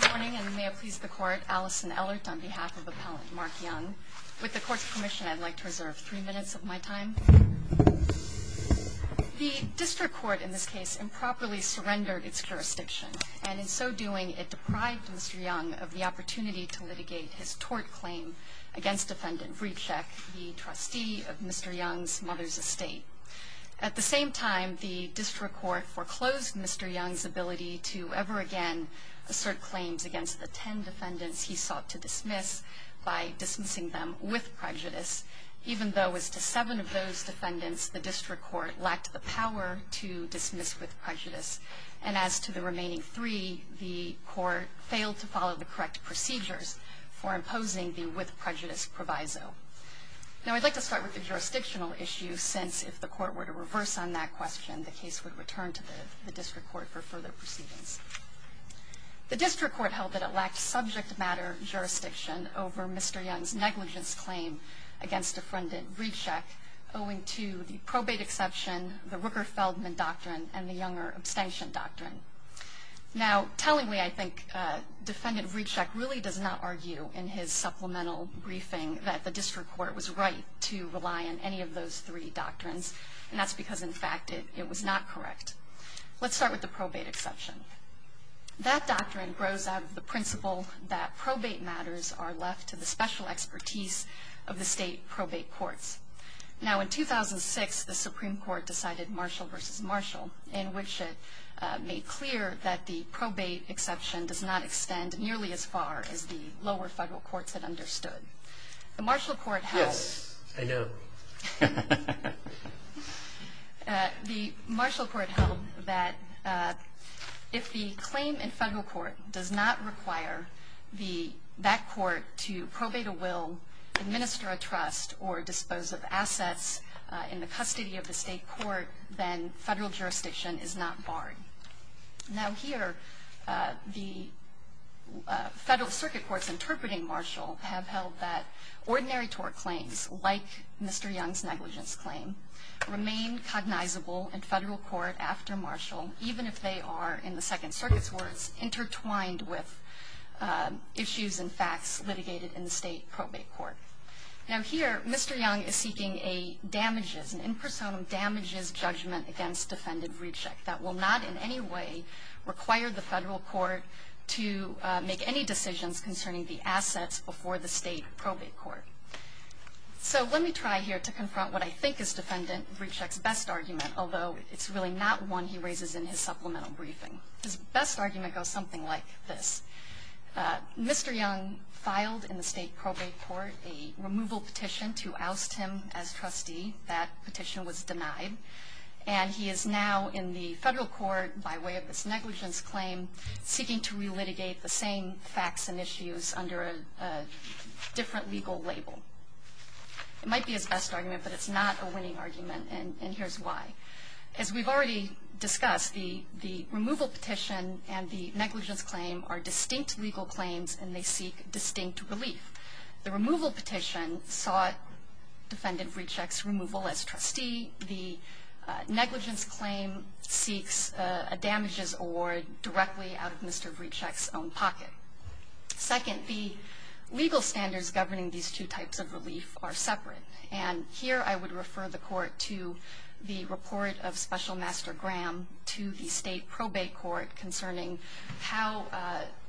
Good morning, and may it please the Court, Allison Ellert on behalf of Appellant Mark Young. With the Court's permission, I'd like to reserve three minutes of my time. The District Court in this case improperly surrendered its jurisdiction, and in so doing it deprived Mr. Young of the opportunity to litigate his tort claim against Defendant Vrycek, the trustee of Mr. Young's mother's estate. At the same time, the District Court foreclosed Mr. Young's ability to ever again assert claims against the ten defendants he sought to dismiss by dismissing them with prejudice. Even though as to seven of those defendants, the District Court lacked the power to dismiss with prejudice. And as to the remaining three, the Court failed to follow the correct procedures for imposing the with prejudice proviso. Now, I'd like to start with the jurisdictional issue since if the Court were to reverse on that question, the case would return to the District Court for further proceedings. The District Court held that it lacked subject matter jurisdiction over Mr. Young's negligence claim against Defendant Vrycek owing to the probate exception, the Rooker-Feldman doctrine, and the Younger abstention doctrine. Now, tellingly, I think Defendant Vrycek really does not argue in his supplemental briefing that the District Court was right to rely on any of those three doctrines. And that's because, in fact, it was not correct. Let's start with the probate exception. That doctrine grows out of the principle that probate matters are left to the special expertise of the state probate courts. Now, in 2006, the Supreme Court decided Marshall v. Marshall in which it made clear that the probate exception does not extend nearly as far as the lower federal courts had understood. The Marshall Court held that if the claim in federal court does not require that court to probate a will, administer a trust, or dispose of assets in the custody of the state court, then federal jurisdiction is not barred. Now, here, the federal circuit courts interpreting Marshall have held that ordinary tort claims, like Mr. Young's negligence claim, remain cognizable in federal court after Marshall, even if they are, in the Second Circuit's words, intertwined with issues and facts litigated in the state probate court. Now, here, Mr. Young is seeking a damages, an in personam damages judgment against defendant Vrechek that will not in any way require the federal court to make any decisions concerning the assets before the state probate court. So let me try here to confront what I think is defendant Vrechek's best argument, although it's really not one he raises in his supplemental briefing. His best argument goes something like this. Mr. Young filed in the state probate court a removal petition to oust him as trustee. That petition was denied. And he is now in the federal court, by way of this negligence claim, seeking to relitigate the same facts and issues under a different legal label. It might be his best argument, but it's not a winning argument, and here's why. As we've already discussed, the removal petition and the negligence claim are distinct legal claims, and they seek distinct relief. The removal petition sought defendant Vrechek's removal as trustee. The negligence claim seeks a damages award directly out of Mr. Vrechek's own pocket. Second, the legal standards governing these two types of relief are separate, and here I would refer the court to the report of Special Master Graham to the state probate court concerning how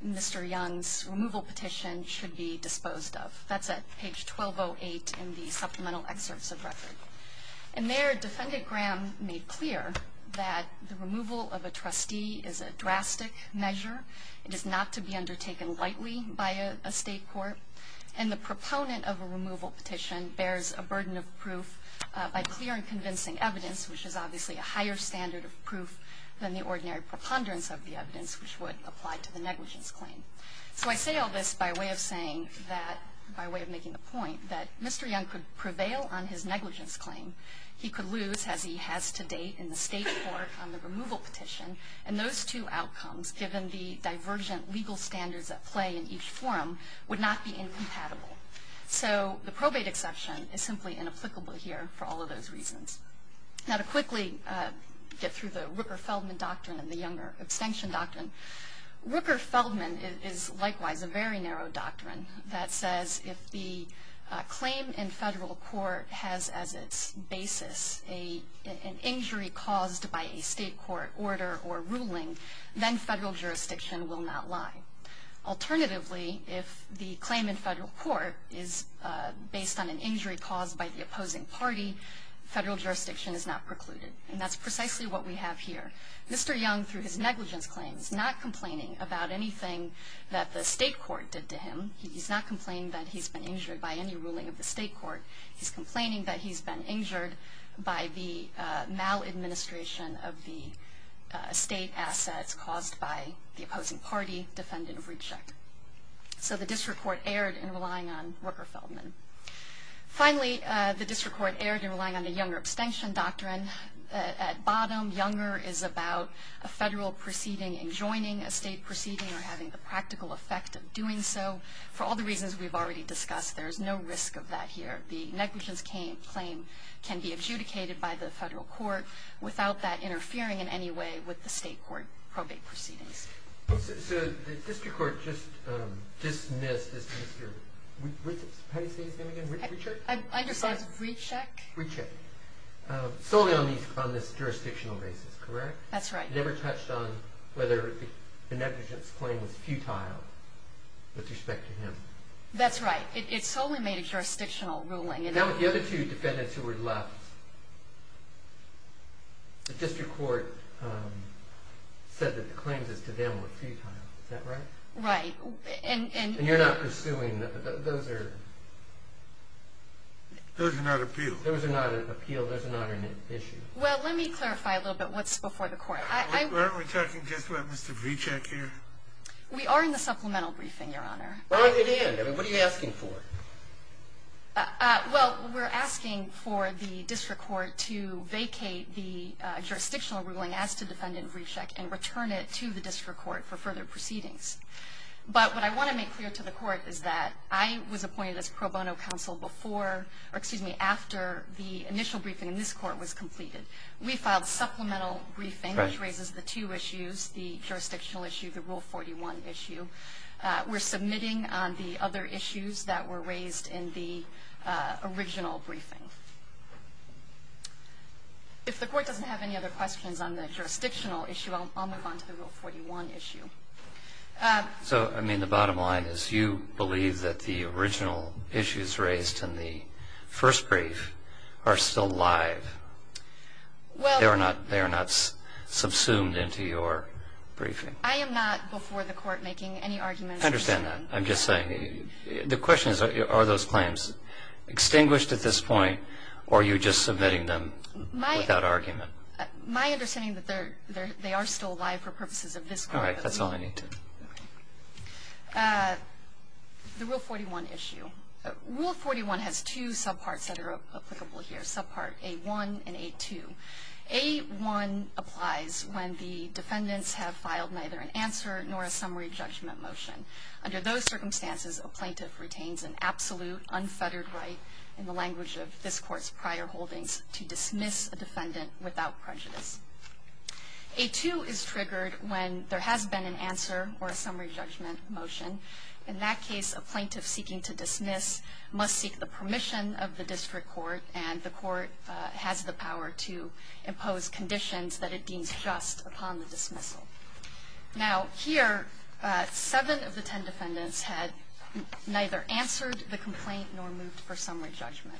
Mr. Young's removal petition should be disposed of. That's at page 1208 in the supplemental excerpts of record. And there, Defendant Graham made clear that the removal of a trustee is a drastic measure. It is not to be undertaken lightly by a state court, and the proponent of a removal petition bears a burden of proof by clear and convincing evidence, which is obviously a higher standard of proof than the ordinary preponderance of the evidence which would apply to the negligence claim. So I say all this by way of saying that, by way of making the point, that Mr. Young could prevail on his negligence claim. He could lose, as he has to date, in the state court on the removal petition, and those two outcomes, given the divergent legal standards at play in each forum, would not be incompatible. So the probate exception is simply inapplicable here for all of those reasons. Now to quickly get through the Rooker-Feldman Doctrine and the Younger Extinction Doctrine, Rooker-Feldman is likewise a very narrow doctrine that says if the claim in federal court has, as its basis, an injury caused by a state court order or ruling, then federal jurisdiction will not lie. Alternatively, if the claim in federal court is based on an injury caused by the opposing party, federal jurisdiction is not precluded. And that's precisely what we have here. Mr. Young, through his negligence claim, is not complaining about anything that the state court did to him. He's not complaining that he's been injured by any ruling of the state court. He's complaining that he's been injured by the maladministration of the state assets caused by the opposing party, defendant of reject. So the district court erred in relying on Rooker-Feldman. Finally, the district court erred in relying on the Younger Extinction Doctrine. At bottom, Younger is about a federal proceeding enjoining a state proceeding or having the practical effect of doing so. For all the reasons we've already discussed, there is no risk of that here. The negligence claim can be adjudicated by the federal court without that interfering in any way with the state court probate proceedings. So the district court just dismissed this Mr. Richard? I just said Richek. Richek. Solely on this jurisdictional basis, correct? That's right. It never touched on whether the negligence claim was futile with respect to him. That's right. It solely made a jurisdictional ruling. Now with the other two defendants who were left, the district court said that the claims as to them were futile. Is that right? Right. And you're not pursuing those are? Those are not appealed. Those are not appealed. Those are not an issue. Well, let me clarify a little bit what's before the court. Aren't we talking just about Mr. Richek here? We are in the supplemental briefing, Your Honor. Well, you did. What are you asking for? Well, we're asking for the district court to vacate the jurisdictional ruling as to defendant Richek and return it to the district court for further proceedings. But what I want to make clear to the court is that I was appointed as pro bono counsel before or, excuse me, after the initial briefing in this court was completed. We filed supplemental briefing, which raises the two issues, the jurisdictional issue, the Rule 41 issue. We're submitting on the other issues that were raised in the original briefing. If the court doesn't have any other questions on the jurisdictional issue, I'll move on to the Rule 41 issue. So, I mean, the bottom line is you believe that the original issues raised in the first brief are still live. They are not subsumed into your briefing. I am not before the court making any arguments. I understand that. I'm just saying. The question is, are those claims extinguished at this point, or are you just submitting them without argument? My understanding is that they are still alive for purposes of this court. All right. That's all I need to know. The Rule 41 issue. Rule 41 has two subparts that are applicable here, subpart A1 and A2. A1 applies when the defendants have filed neither an answer nor a summary judgment motion. Under those circumstances, a plaintiff retains an absolute, unfettered right, in the language of this court's prior holdings, to dismiss a defendant without prejudice. A2 is triggered when there has been an answer or a summary judgment motion. In that case, a plaintiff seeking to dismiss must seek the permission of the district court, and the court has the power to impose conditions that it deems just upon the dismissal. Now, here, seven of the ten defendants had neither answered the complaint nor moved for summary judgment.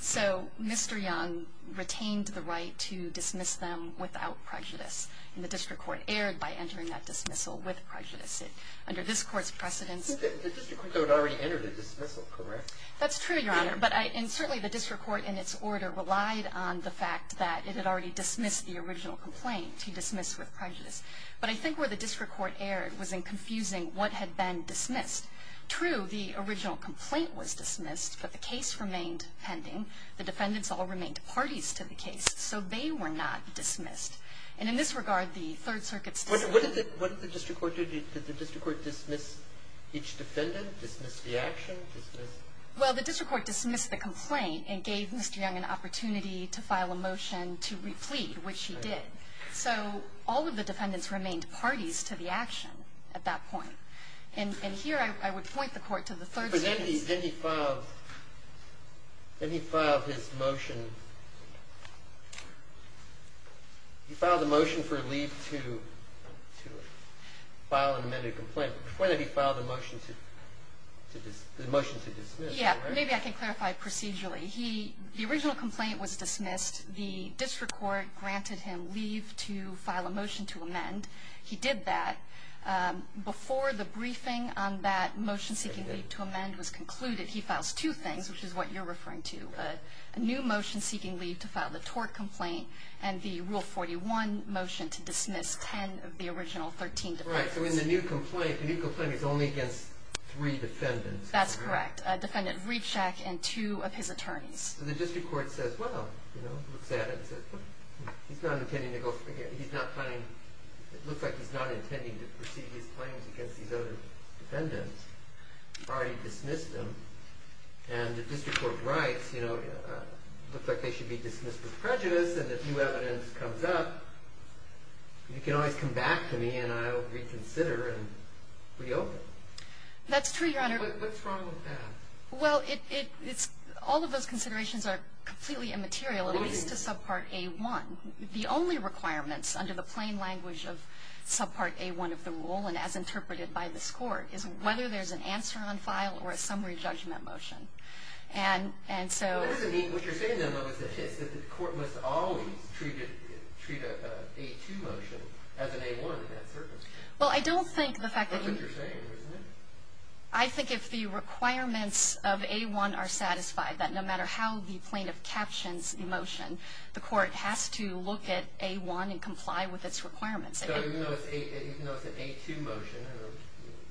So Mr. Young retained the right to dismiss them without prejudice, and the district court erred by entering that dismissal with prejudice. Under this court's precedence ---- The district court already entered a dismissal, correct? That's true, Your Honor. But I ---- and certainly the district court, in its order, relied on the fact that it had already dismissed the original complaint. He dismissed with prejudice. But I think where the district court erred was in confusing what had been dismissed. True, the original complaint was dismissed, but the case remained pending. The defendants all remained parties to the case, so they were not dismissed. And in this regard, the Third Circuit's dismissal ---- What did the district court do? Did the district court dismiss each defendant, dismiss the action, dismiss ---- Well, the district court dismissed the complaint and gave Mr. Young an opportunity to file a motion to replead, which he did. So all of the defendants remained parties to the action at that point. And here I would point the court to the Third Circuit's ---- But then he filed his motion. He filed a motion for leave to file an amended complaint. But before that, he filed a motion to dismiss. Yeah, maybe I can clarify procedurally. The original complaint was dismissed. The district court granted him leave to file a motion to amend. He did that. Before the briefing on that motion seeking leave to amend was concluded, he files two things, which is what you're referring to, a new motion seeking leave to file the tort complaint and the Rule 41 motion to dismiss 10 of the original 13 defendants. Right, so in the new complaint, the new complaint is only against three defendants. That's correct, defendant Rechak and two of his attorneys. So the district court says, well, you know, looks at it and says, he's not intending to go ---- he's not finding ---- it looks like he's not intending to proceed his claims against these other defendants. He's already dismissed them. And the district court writes, you know, it looks like they should be dismissed with prejudice, and if new evidence comes up, you can always come back to me and I'll reconsider and reopen. That's true, Your Honor. What's wrong with that? Well, it's ---- all of those considerations are completely immaterial, at least to subpart A-1. The only requirements under the plain language of subpart A-1 of the rule and as interpreted by this Court is whether there's an answer on file or a summary judgment motion. And so ---- What you're saying, though, is that the court must always treat a A-2 motion as an A-1 in that circumstance. Well, I don't think the fact that you ---- That's what you're saying, isn't it? I think if the requirements of A-1 are satisfied, that no matter how the plaintiff captions the motion, the court has to look at A-1 and comply with its requirements. So even though it's an A-2 motion,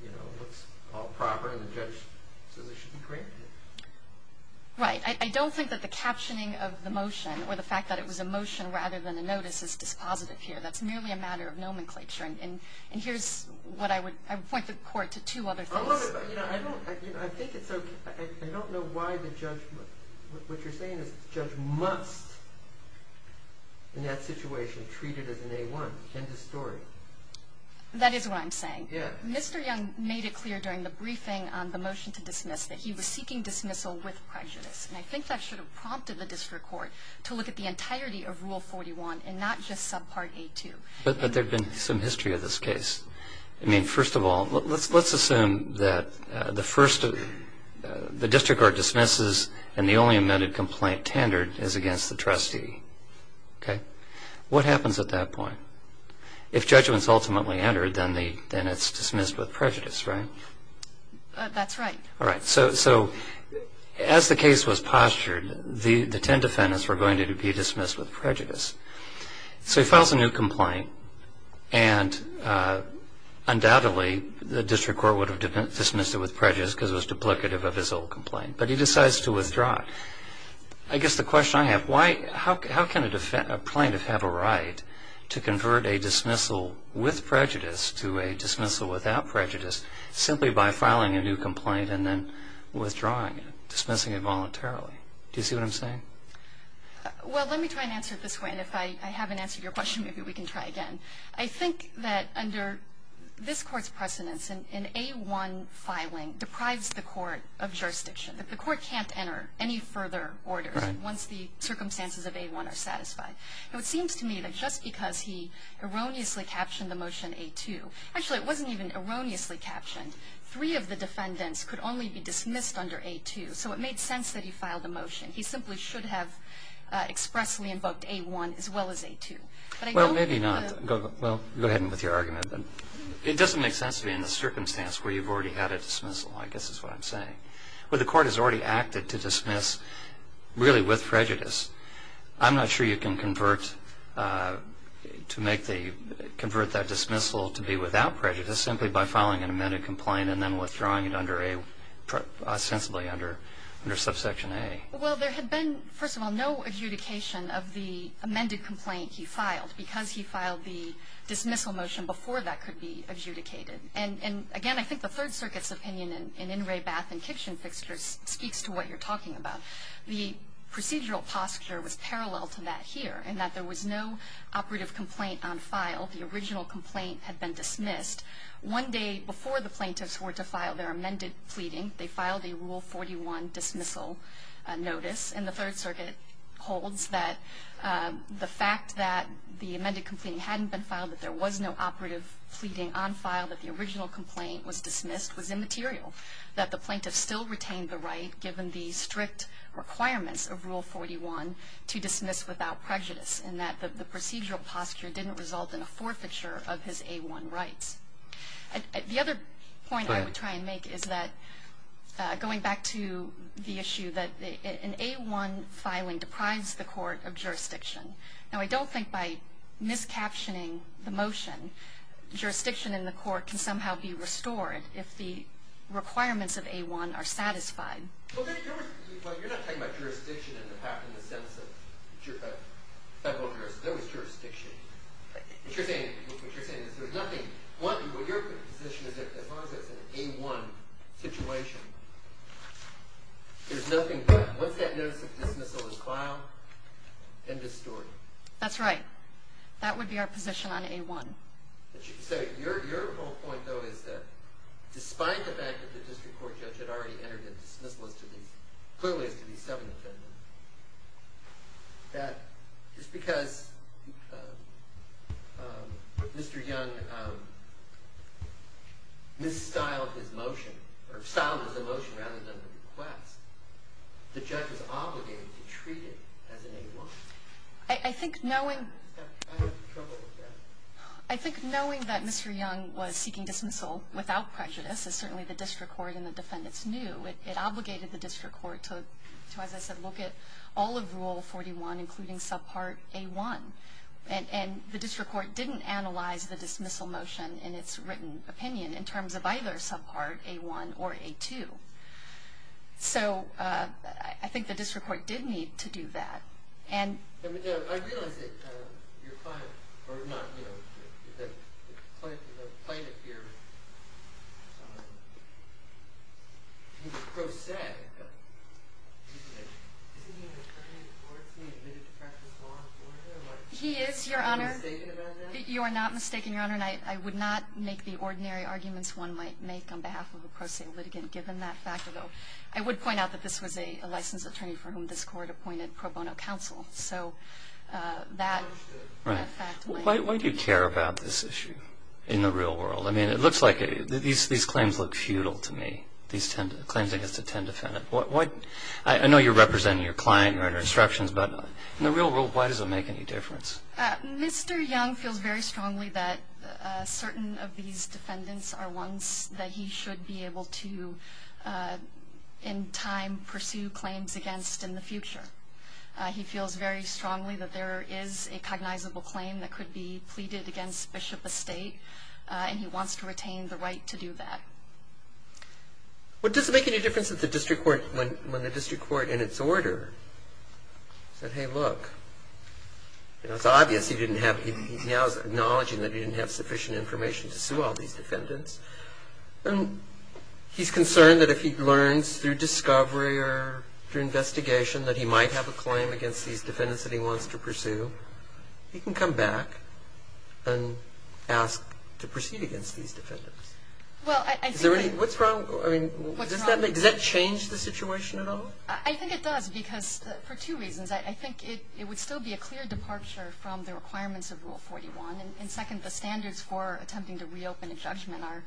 you know, it looks all proper and the judge says it should be granted. Right. I don't think that the captioning of the motion or the fact that it was a motion rather than a notice is dispositive here. That's merely a matter of nomenclature. And here's what I would ---- I would point the Court to two other things. I don't know why the judge ---- What you're saying is the judge must in that situation treat it as an A-1. End of story. That is what I'm saying. Mr. Young made it clear during the briefing on the motion to dismiss that he was seeking dismissal with prejudice. And I think that should have prompted the district court to look at the entirety of Rule 41 and not just subpart A-2. But there's been some history of this case. I mean, first of all, let's assume that the first ---- the district court dismisses and the only amended complaint tendered is against the trustee. Okay. What happens at that point? If judgment is ultimately entered, then it's dismissed with prejudice, right? That's right. All right. the ten defendants were going to be dismissed with prejudice. So he files a new complaint, and undoubtedly the district court would have dismissed it with prejudice because it was duplicative of his old complaint. But he decides to withdraw it. I guess the question I have, how can a plaintiff have a right to convert a dismissal with prejudice to a dismissal without prejudice simply by filing a new complaint and then withdrawing it, dismissing it voluntarily? Do you see what I'm saying? Well, let me try and answer it this way. And if I haven't answered your question, maybe we can try again. I think that under this Court's precedence, an A-1 filing deprives the court of jurisdiction, that the court can't enter any further orders once the circumstances of A-1 are satisfied. Now, it seems to me that just because he erroneously captioned the motion A-2 ---- actually, it wasn't even erroneously captioned. Three of the defendants could only be dismissed under A-2. So it made sense that he filed a motion. He simply should have expressly invoked A-1 as well as A-2. But I don't think the ---- Well, maybe not. Well, go ahead with your argument. It doesn't make sense to me in the circumstance where you've already had a dismissal, I guess is what I'm saying. Where the court has already acted to dismiss really with prejudice, I'm not sure you can convert to make the ---- convert that dismissal to be without prejudice simply by filing an amended complaint and then withdrawing it under a ---- ostensibly under subsection A. Well, there had been, first of all, no adjudication of the amended complaint he filed because he filed the dismissal motion before that could be adjudicated. And again, I think the Third Circuit's opinion in In re Bath and Kitchen Fixtures speaks to what you're talking about. The procedural posture was parallel to that here in that there was no operative complaint on file. The original complaint had been dismissed. One day before the plaintiffs were to file their amended pleading, they filed a Rule 41 dismissal notice. And the Third Circuit holds that the fact that the amended complaint hadn't been filed, that there was no operative pleading on file, that the original complaint was dismissed was immaterial, that the plaintiff still retained the right given the strict requirements of Rule 41 to dismiss without prejudice, and that the procedural posture didn't result in a forfeiture of his A1 rights. The other point I would try and make is that, going back to the issue that an A1 filing deprives the court of jurisdiction. Now, I don't think by miscaptioning the motion, jurisdiction in the court can somehow be restored if the requirements of A1 are satisfied. Well, you're not talking about jurisdiction in the sense of federal jurisdiction. There was jurisdiction. What you're saying is there's nothing. One, your position is that as long as it's an A1 situation, there's nothing there. Once that notice of dismissal is filed, end of story. That's right. That would be our position on A1. So your whole point, though, is that despite the fact that the district court judge had already entered a dismissal as to these, clearly as to these seven defendants, that just because Mr. Young styled his motion, or styled his motion rather than the request, the judge was obligated to treat it as an A1. I think knowing that Mr. Young was seeking dismissal without prejudice, as certainly the district court and the defendants knew, it obligated the district court to, as I said, look at all of Rule 41, including subpart A1. And the district court didn't analyze the dismissal motion in its written opinion in terms of either subpart A1 or A2. So I think the district court did need to do that. I realize that your client, or not, you know, the plaintiff here, he's pro se, but isn't he an attorney before he's been admitted to practice law? He is, Your Honor. Are you mistaken about that? You are not mistaken, Your Honor, and I would not make the ordinary arguments one might make on behalf of a pro se litigant given that fact, although I would point out that this was a licensed attorney for whom this court appointed pro bono counsel. So that fact might be. Why do you care about this issue in the real world? I mean, it looks like these claims look futile to me, these claims against a 10 defendant. I know you're representing your client, Your Honor, instructions, but in the real world, why does it make any difference? Mr. Young feels very strongly that certain of these defendants are ones that he should be able to, in time, pursue claims against in the future. He feels very strongly that there is a cognizable claim that could be pleaded against Bishop Estate, and he wants to retain the right to do that. Well, does it make any difference that the district court, when the district court in its order said, hey, look, you know, it's obvious he didn't have, he now is acknowledging that he didn't have sufficient information to sue all these defendants, and he's concerned that if he learns through discovery or through that he might have a claim against these defendants that he wants to pursue, he can come back and ask to proceed against these defendants. Well, I think... What's wrong? Does that change the situation at all? I think it does, because for two reasons. I think it would still be a clear departure from the requirements of Rule 41, and second, the standards for attempting to reopen a judgment are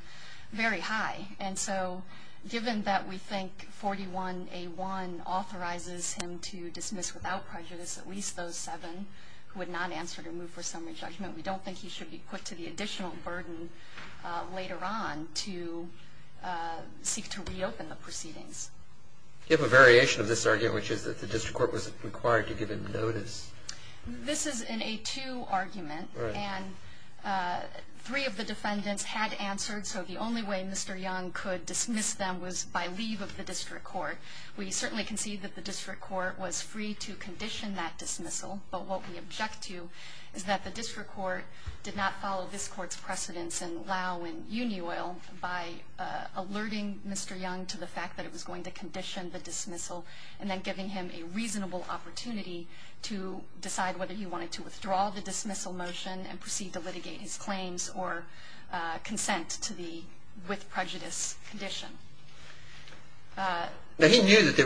very high, and so given that we think 41A1 authorizes him to dismiss without prejudice at least those seven who had not answered or moved for summary judgment, we don't think he should be put to the additional burden later on to seek to reopen the proceedings. Do you have a variation of this argument, which is that the district court was required to give him notice? This is an A2 argument, and three of the defendants had answered, so the only way Mr. Young could dismiss them was by leave of the district court. We certainly concede that the district court was free to condition that dismissal, but what we object to is that the district court did not follow this court's precedents in Lau and Union Oil by alerting Mr. Young to the fact that it was going to condition the dismissal and then giving him a reasonable opportunity to decide whether he wanted to withdraw the with prejudice condition. He knew that there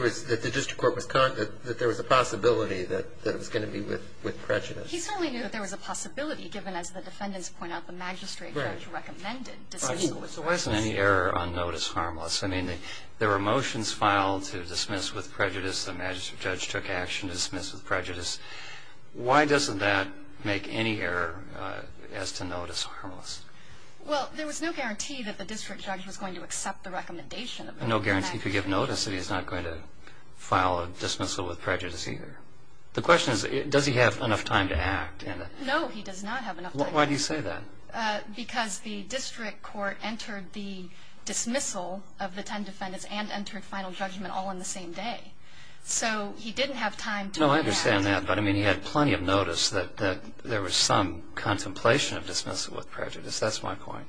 was a possibility that it was going to be with prejudice. He certainly knew that there was a possibility, given, as the defendants point out, the magistrate judge recommended dismissal with prejudice. So why isn't any error on notice harmless? I mean, there were motions filed to dismiss with prejudice. The magistrate judge took action to dismiss with prejudice. Why doesn't that make any error as to notice harmless? Well, there was no guarantee that the district judge was going to accept the recommendation of the magistrate judge. No guarantee to give notice that he's not going to file a dismissal with prejudice either. The question is, does he have enough time to act? No, he does not have enough time. Why do you say that? Because the district court entered the dismissal of the 10 defendants and entered final judgment all in the same day. So he didn't have time to act. No, I understand that, but I mean, he had plenty of notice that there was some contemplation of dismissal with prejudice. That's my point.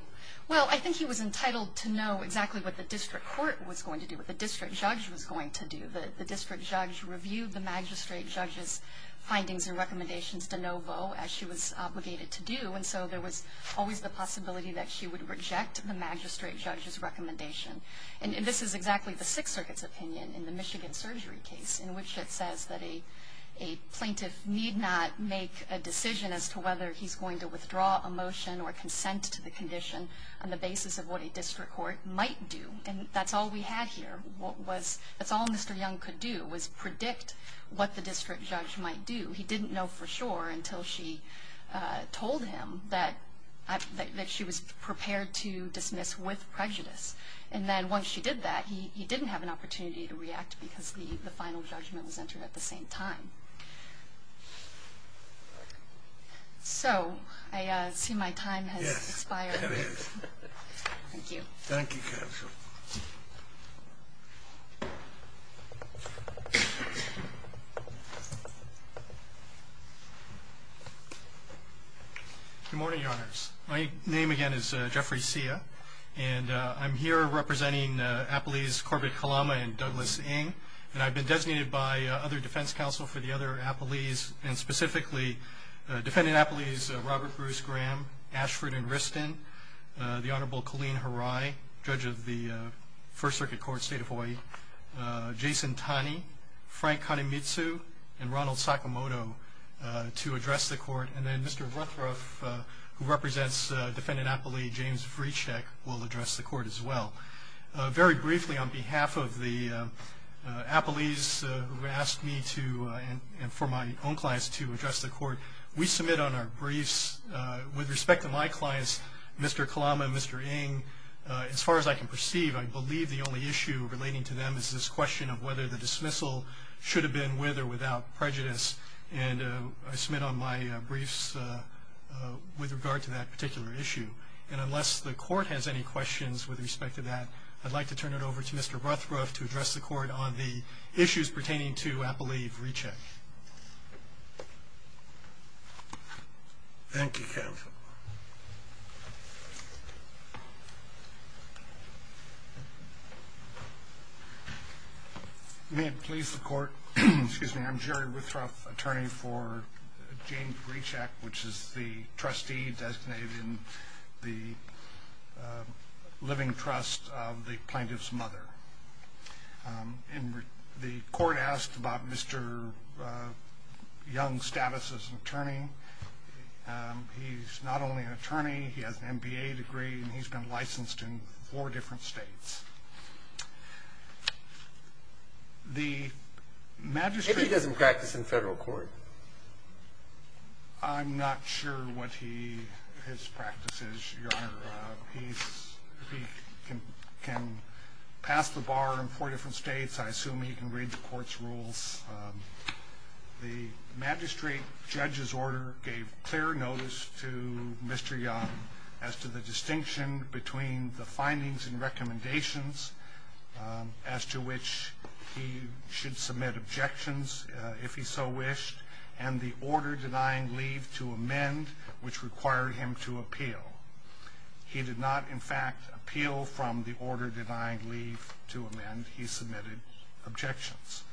Well, I think he was entitled to know exactly what the district court was going to do, what the district judge was going to do. The district judge reviewed the magistrate judge's findings and recommendations de novo, as she was obligated to do, and so there was always the possibility that she would reject the magistrate judge's recommendation. And this is exactly the Sixth Circuit's opinion in the Michigan surgery case, in which it says that a plaintiff need not make a decision as to whether he's going to withdraw a motion or consent to the condition on the basis of what a district court might do. And that's all we had here. That's all Mr. Young could do was predict what the district judge might do. He didn't know for sure until she told him that she was prepared to dismiss with prejudice. And then once she did that, he didn't have an opportunity to react because the final judgment was entered at the same time. So I see my time has expired. Yes, it is. Thank you. Thank you, Counsel. Good morning, Your Honors. My name, again, is Jeffrey Sia, and I'm here representing Appalese Corbett Kalama and Douglas Ng, and I've been designated by other defense counsel for the other Appalese, and specifically Defendant Appalese Robert Bruce Graham, Ashford and Wriston, the Honorable Colleen Harai, Judge of the First Circuit Court, State of Hawaii, Jason Tani, Frank Kanemitsu, and Ronald Sakamoto to address the court. And then Mr. Rutherf, who represents Defendant Appalese James Vrecek, will address the court as well. Very briefly, on behalf of the Appalese who asked me to and for my own clients to address the court, we submit on our briefs with respect to my clients, Mr. Kalama and Mr. Ng, as far as I can perceive, I believe the only issue relating to them is this question of whether the dismissal should have been with or without prejudice. And I submit on my briefs with regard to that particular issue. And unless the court has any questions with respect to that, I'd like to turn it over to Mr. Rutherf to address the court on the issues pertaining to Appalese Vrecek. Thank you, counsel. May it please the court, I'm Jerry Rutherf, attorney for James Vrecek, which is the trustee designated in the living trust of the plaintiff's mother. And the court asked about Mr. Young's status as an attorney. He's not only an attorney, he has an MBA degree, and he's been licensed in four different states. Maybe he doesn't practice in federal court. I'm not sure what his practice is, Your Honor. He can pass the bar in four different states. I assume he can read the court's rules. The magistrate judge's order gave clear notice to Mr. Young as to the distinction between the findings and recommendations as to which he should submit objections, if he so wished, and the order denying leave to amend, which required him to appeal. He did not, in fact, appeal from the order denying leave to amend. He submitted objections.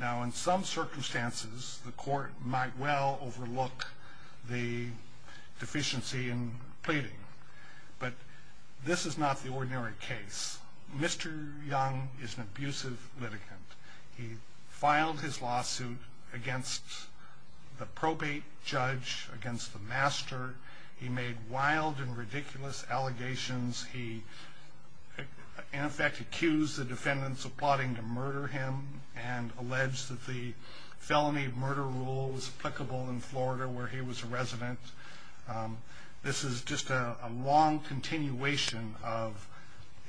Now, in some circumstances, the court might well overlook the deficiency in pleading. But this is not the ordinary case. Mr. Young is an abusive litigant. He filed his lawsuit against the probate judge, against the master. He made wild and ridiculous allegations. He, in effect, accused the defendants of plotting to murder him and alleged that the felony murder rule was applicable in Florida, where he was a resident. This is just a long continuation of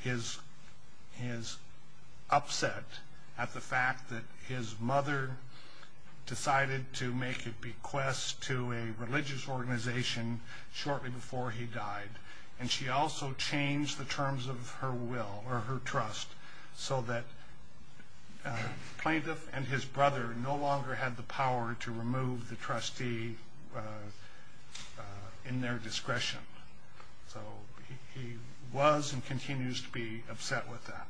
his upset at the fact that his mother decided to make a bequest to a religious organization shortly before he died. And she also changed the terms of her will or her trust so that the plaintiff and his brother no longer had the power to remove the trustee in their discretion. So he was and continues to be upset with that.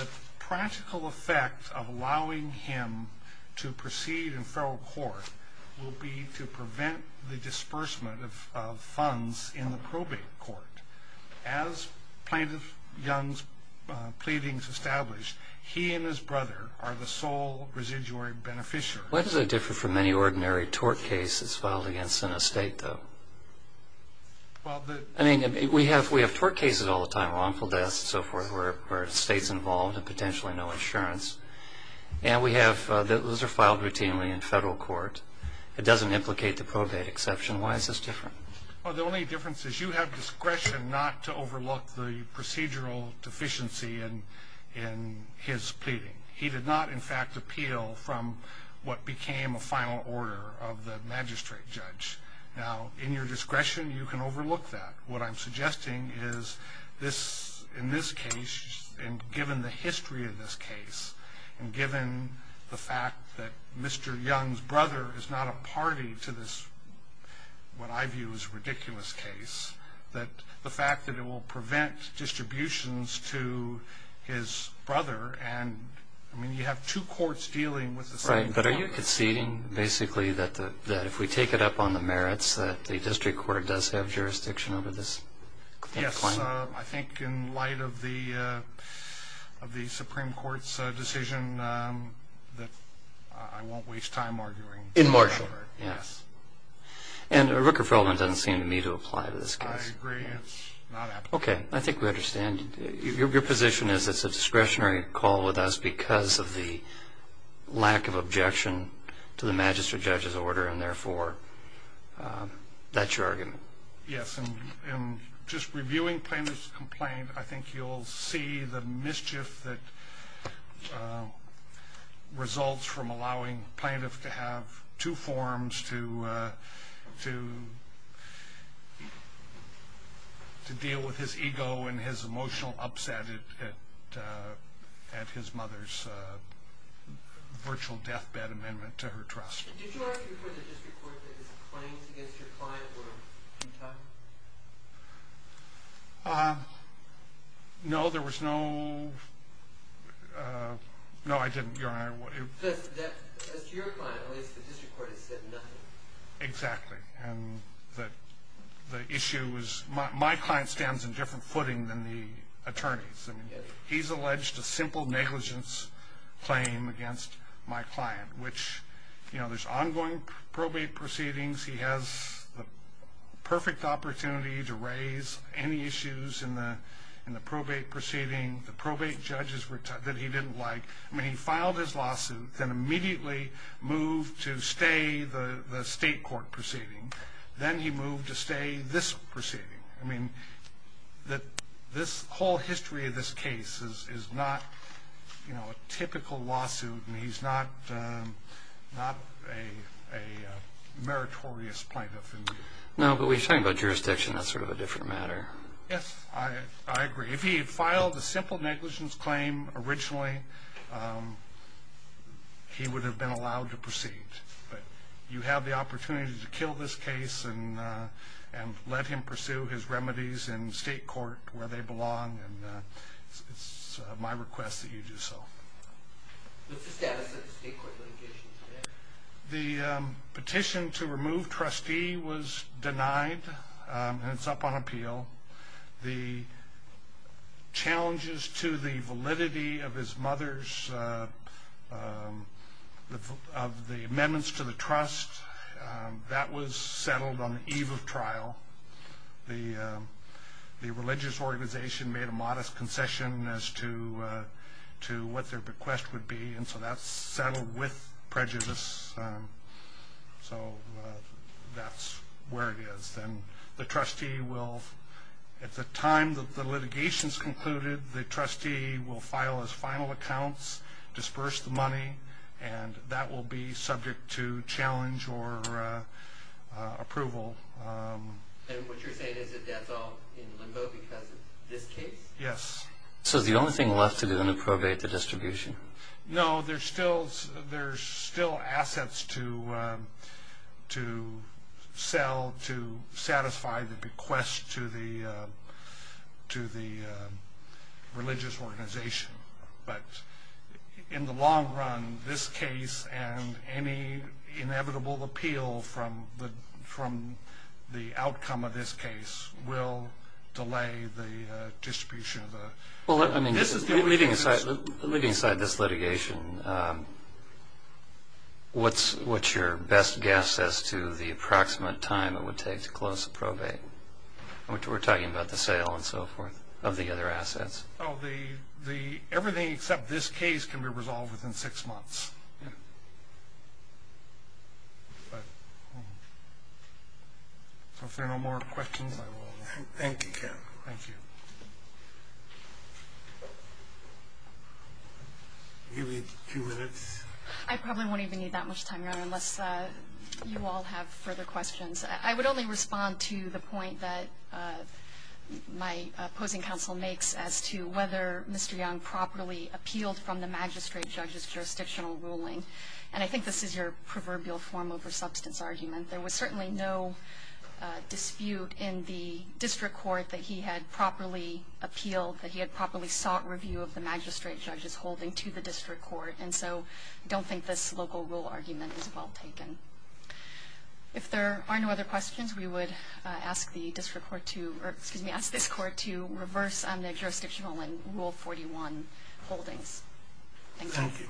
The practical effect of allowing him to proceed in federal court will be to prevent the disbursement of funds in the probate court. As Plaintiff Young's pleadings established, he and his brother are the sole residuary beneficiaries. Why does it differ from any ordinary tort case that's filed against in a state, though? I mean, we have tort cases all the time, wrongful deaths and so forth, where a state's involved and potentially no insurance. And those are filed routinely in federal court. It doesn't implicate the probate exception. Why is this different? Well, the only difference is you have discretion not to overlook the procedural deficiency in his pleading. He did not, in fact, appeal from what became a final order of the magistrate judge. Now, in your discretion, you can overlook that. What I'm suggesting is in this case, and given the history of this case, and given the fact that Mr. Young's brother is not a party to this, what I view as ridiculous case, that the fact that it will prevent distributions to his brother and, I mean, you have two courts dealing with this. Right, but are you conceding, basically, that if we take it up on the merits, that the district court does have jurisdiction over this claim? Yes, I think in light of the Supreme Court's decision that I won't waste time arguing. In Marshall? Yes. And Rooker-Feldman doesn't seem to me to apply to this case. I agree, it's not applicable. Okay, I think we understand. Your position is it's a discretionary call with us because of the lack of objection to the magistrate judge's order and, therefore, that's your argument. Yes, and just reviewing plaintiff's complaint, I think you'll see the mischief that results from allowing plaintiff to have two forms to deal with his ego and his emotional upset at his mother's virtual deathbed amendment to her trust. Did you argue for the district court that his claims against your client were futile? No, there was no – no, I didn't, Your Honor. As to your client, at least, the district court has said nothing. Exactly, and the issue is my client stands in different footing than the attorneys. I mean, he's alleged a simple negligence claim against my client, which, you know, there's ongoing probate proceedings. He has the perfect opportunity to raise any issues in the probate proceeding. The probate judges that he didn't like – I mean, he filed his lawsuit, then immediately moved to stay the state court proceeding. Then he moved to stay this proceeding. I mean, this whole history of this case is not, you know, a typical lawsuit, and he's not a meritorious plaintiff. No, but we're talking about jurisdiction. That's sort of a different matter. Yes, I agree. If he had filed a simple negligence claim originally, he would have been allowed to proceed. But you have the opportunity to kill this case and let him pursue his remedies in state court where they belong, and it's my request that you do so. What's the status of the state court litigation today? The petition to remove trustee was denied, and it's up on appeal. The challenges to the validity of his mother's – of the amendments to the trust, that was settled on the eve of trial. The religious organization made a modest concession as to what their request would be, and so that's settled with prejudice. So that's where it is. And the trustee will – at the time that the litigation's concluded, the trustee will file his final accounts, disperse the money, and that will be subject to challenge or approval. And what you're saying is that that's all in limbo because of this case? Yes. So the only thing left to do then is probate the distribution. No, there's still assets to sell to satisfy the bequest to the religious organization. But in the long run, this case and any inevitable appeal from the outcome of this case will delay the distribution of the – Well, I mean, leaving aside this litigation, what's your best guess as to the approximate time it would take to close the probate? We're talking about the sale and so forth of the other assets. Oh, the – everything except this case can be resolved within six months. Yes. If there are no more questions, I will – Thank you, Kevin. Thank you. I'll give you a few minutes. I probably won't even need that much time, Your Honor, unless you all have further questions. I would only respond to the point that my opposing counsel makes as to whether Mr. Young properly appealed from the magistrate judge's jurisdictional ruling. And I think this is your proverbial form over substance argument. There was certainly no dispute in the district court that he had properly appealed, that he had properly sought review of the magistrate judge's holding to the district court. And so I don't think this local rule argument is well taken. If there are no other questions, we would ask the district court to – or excuse me, ask this court to reverse on the jurisdictional and Rule 41 holdings. Thank you. Thank you.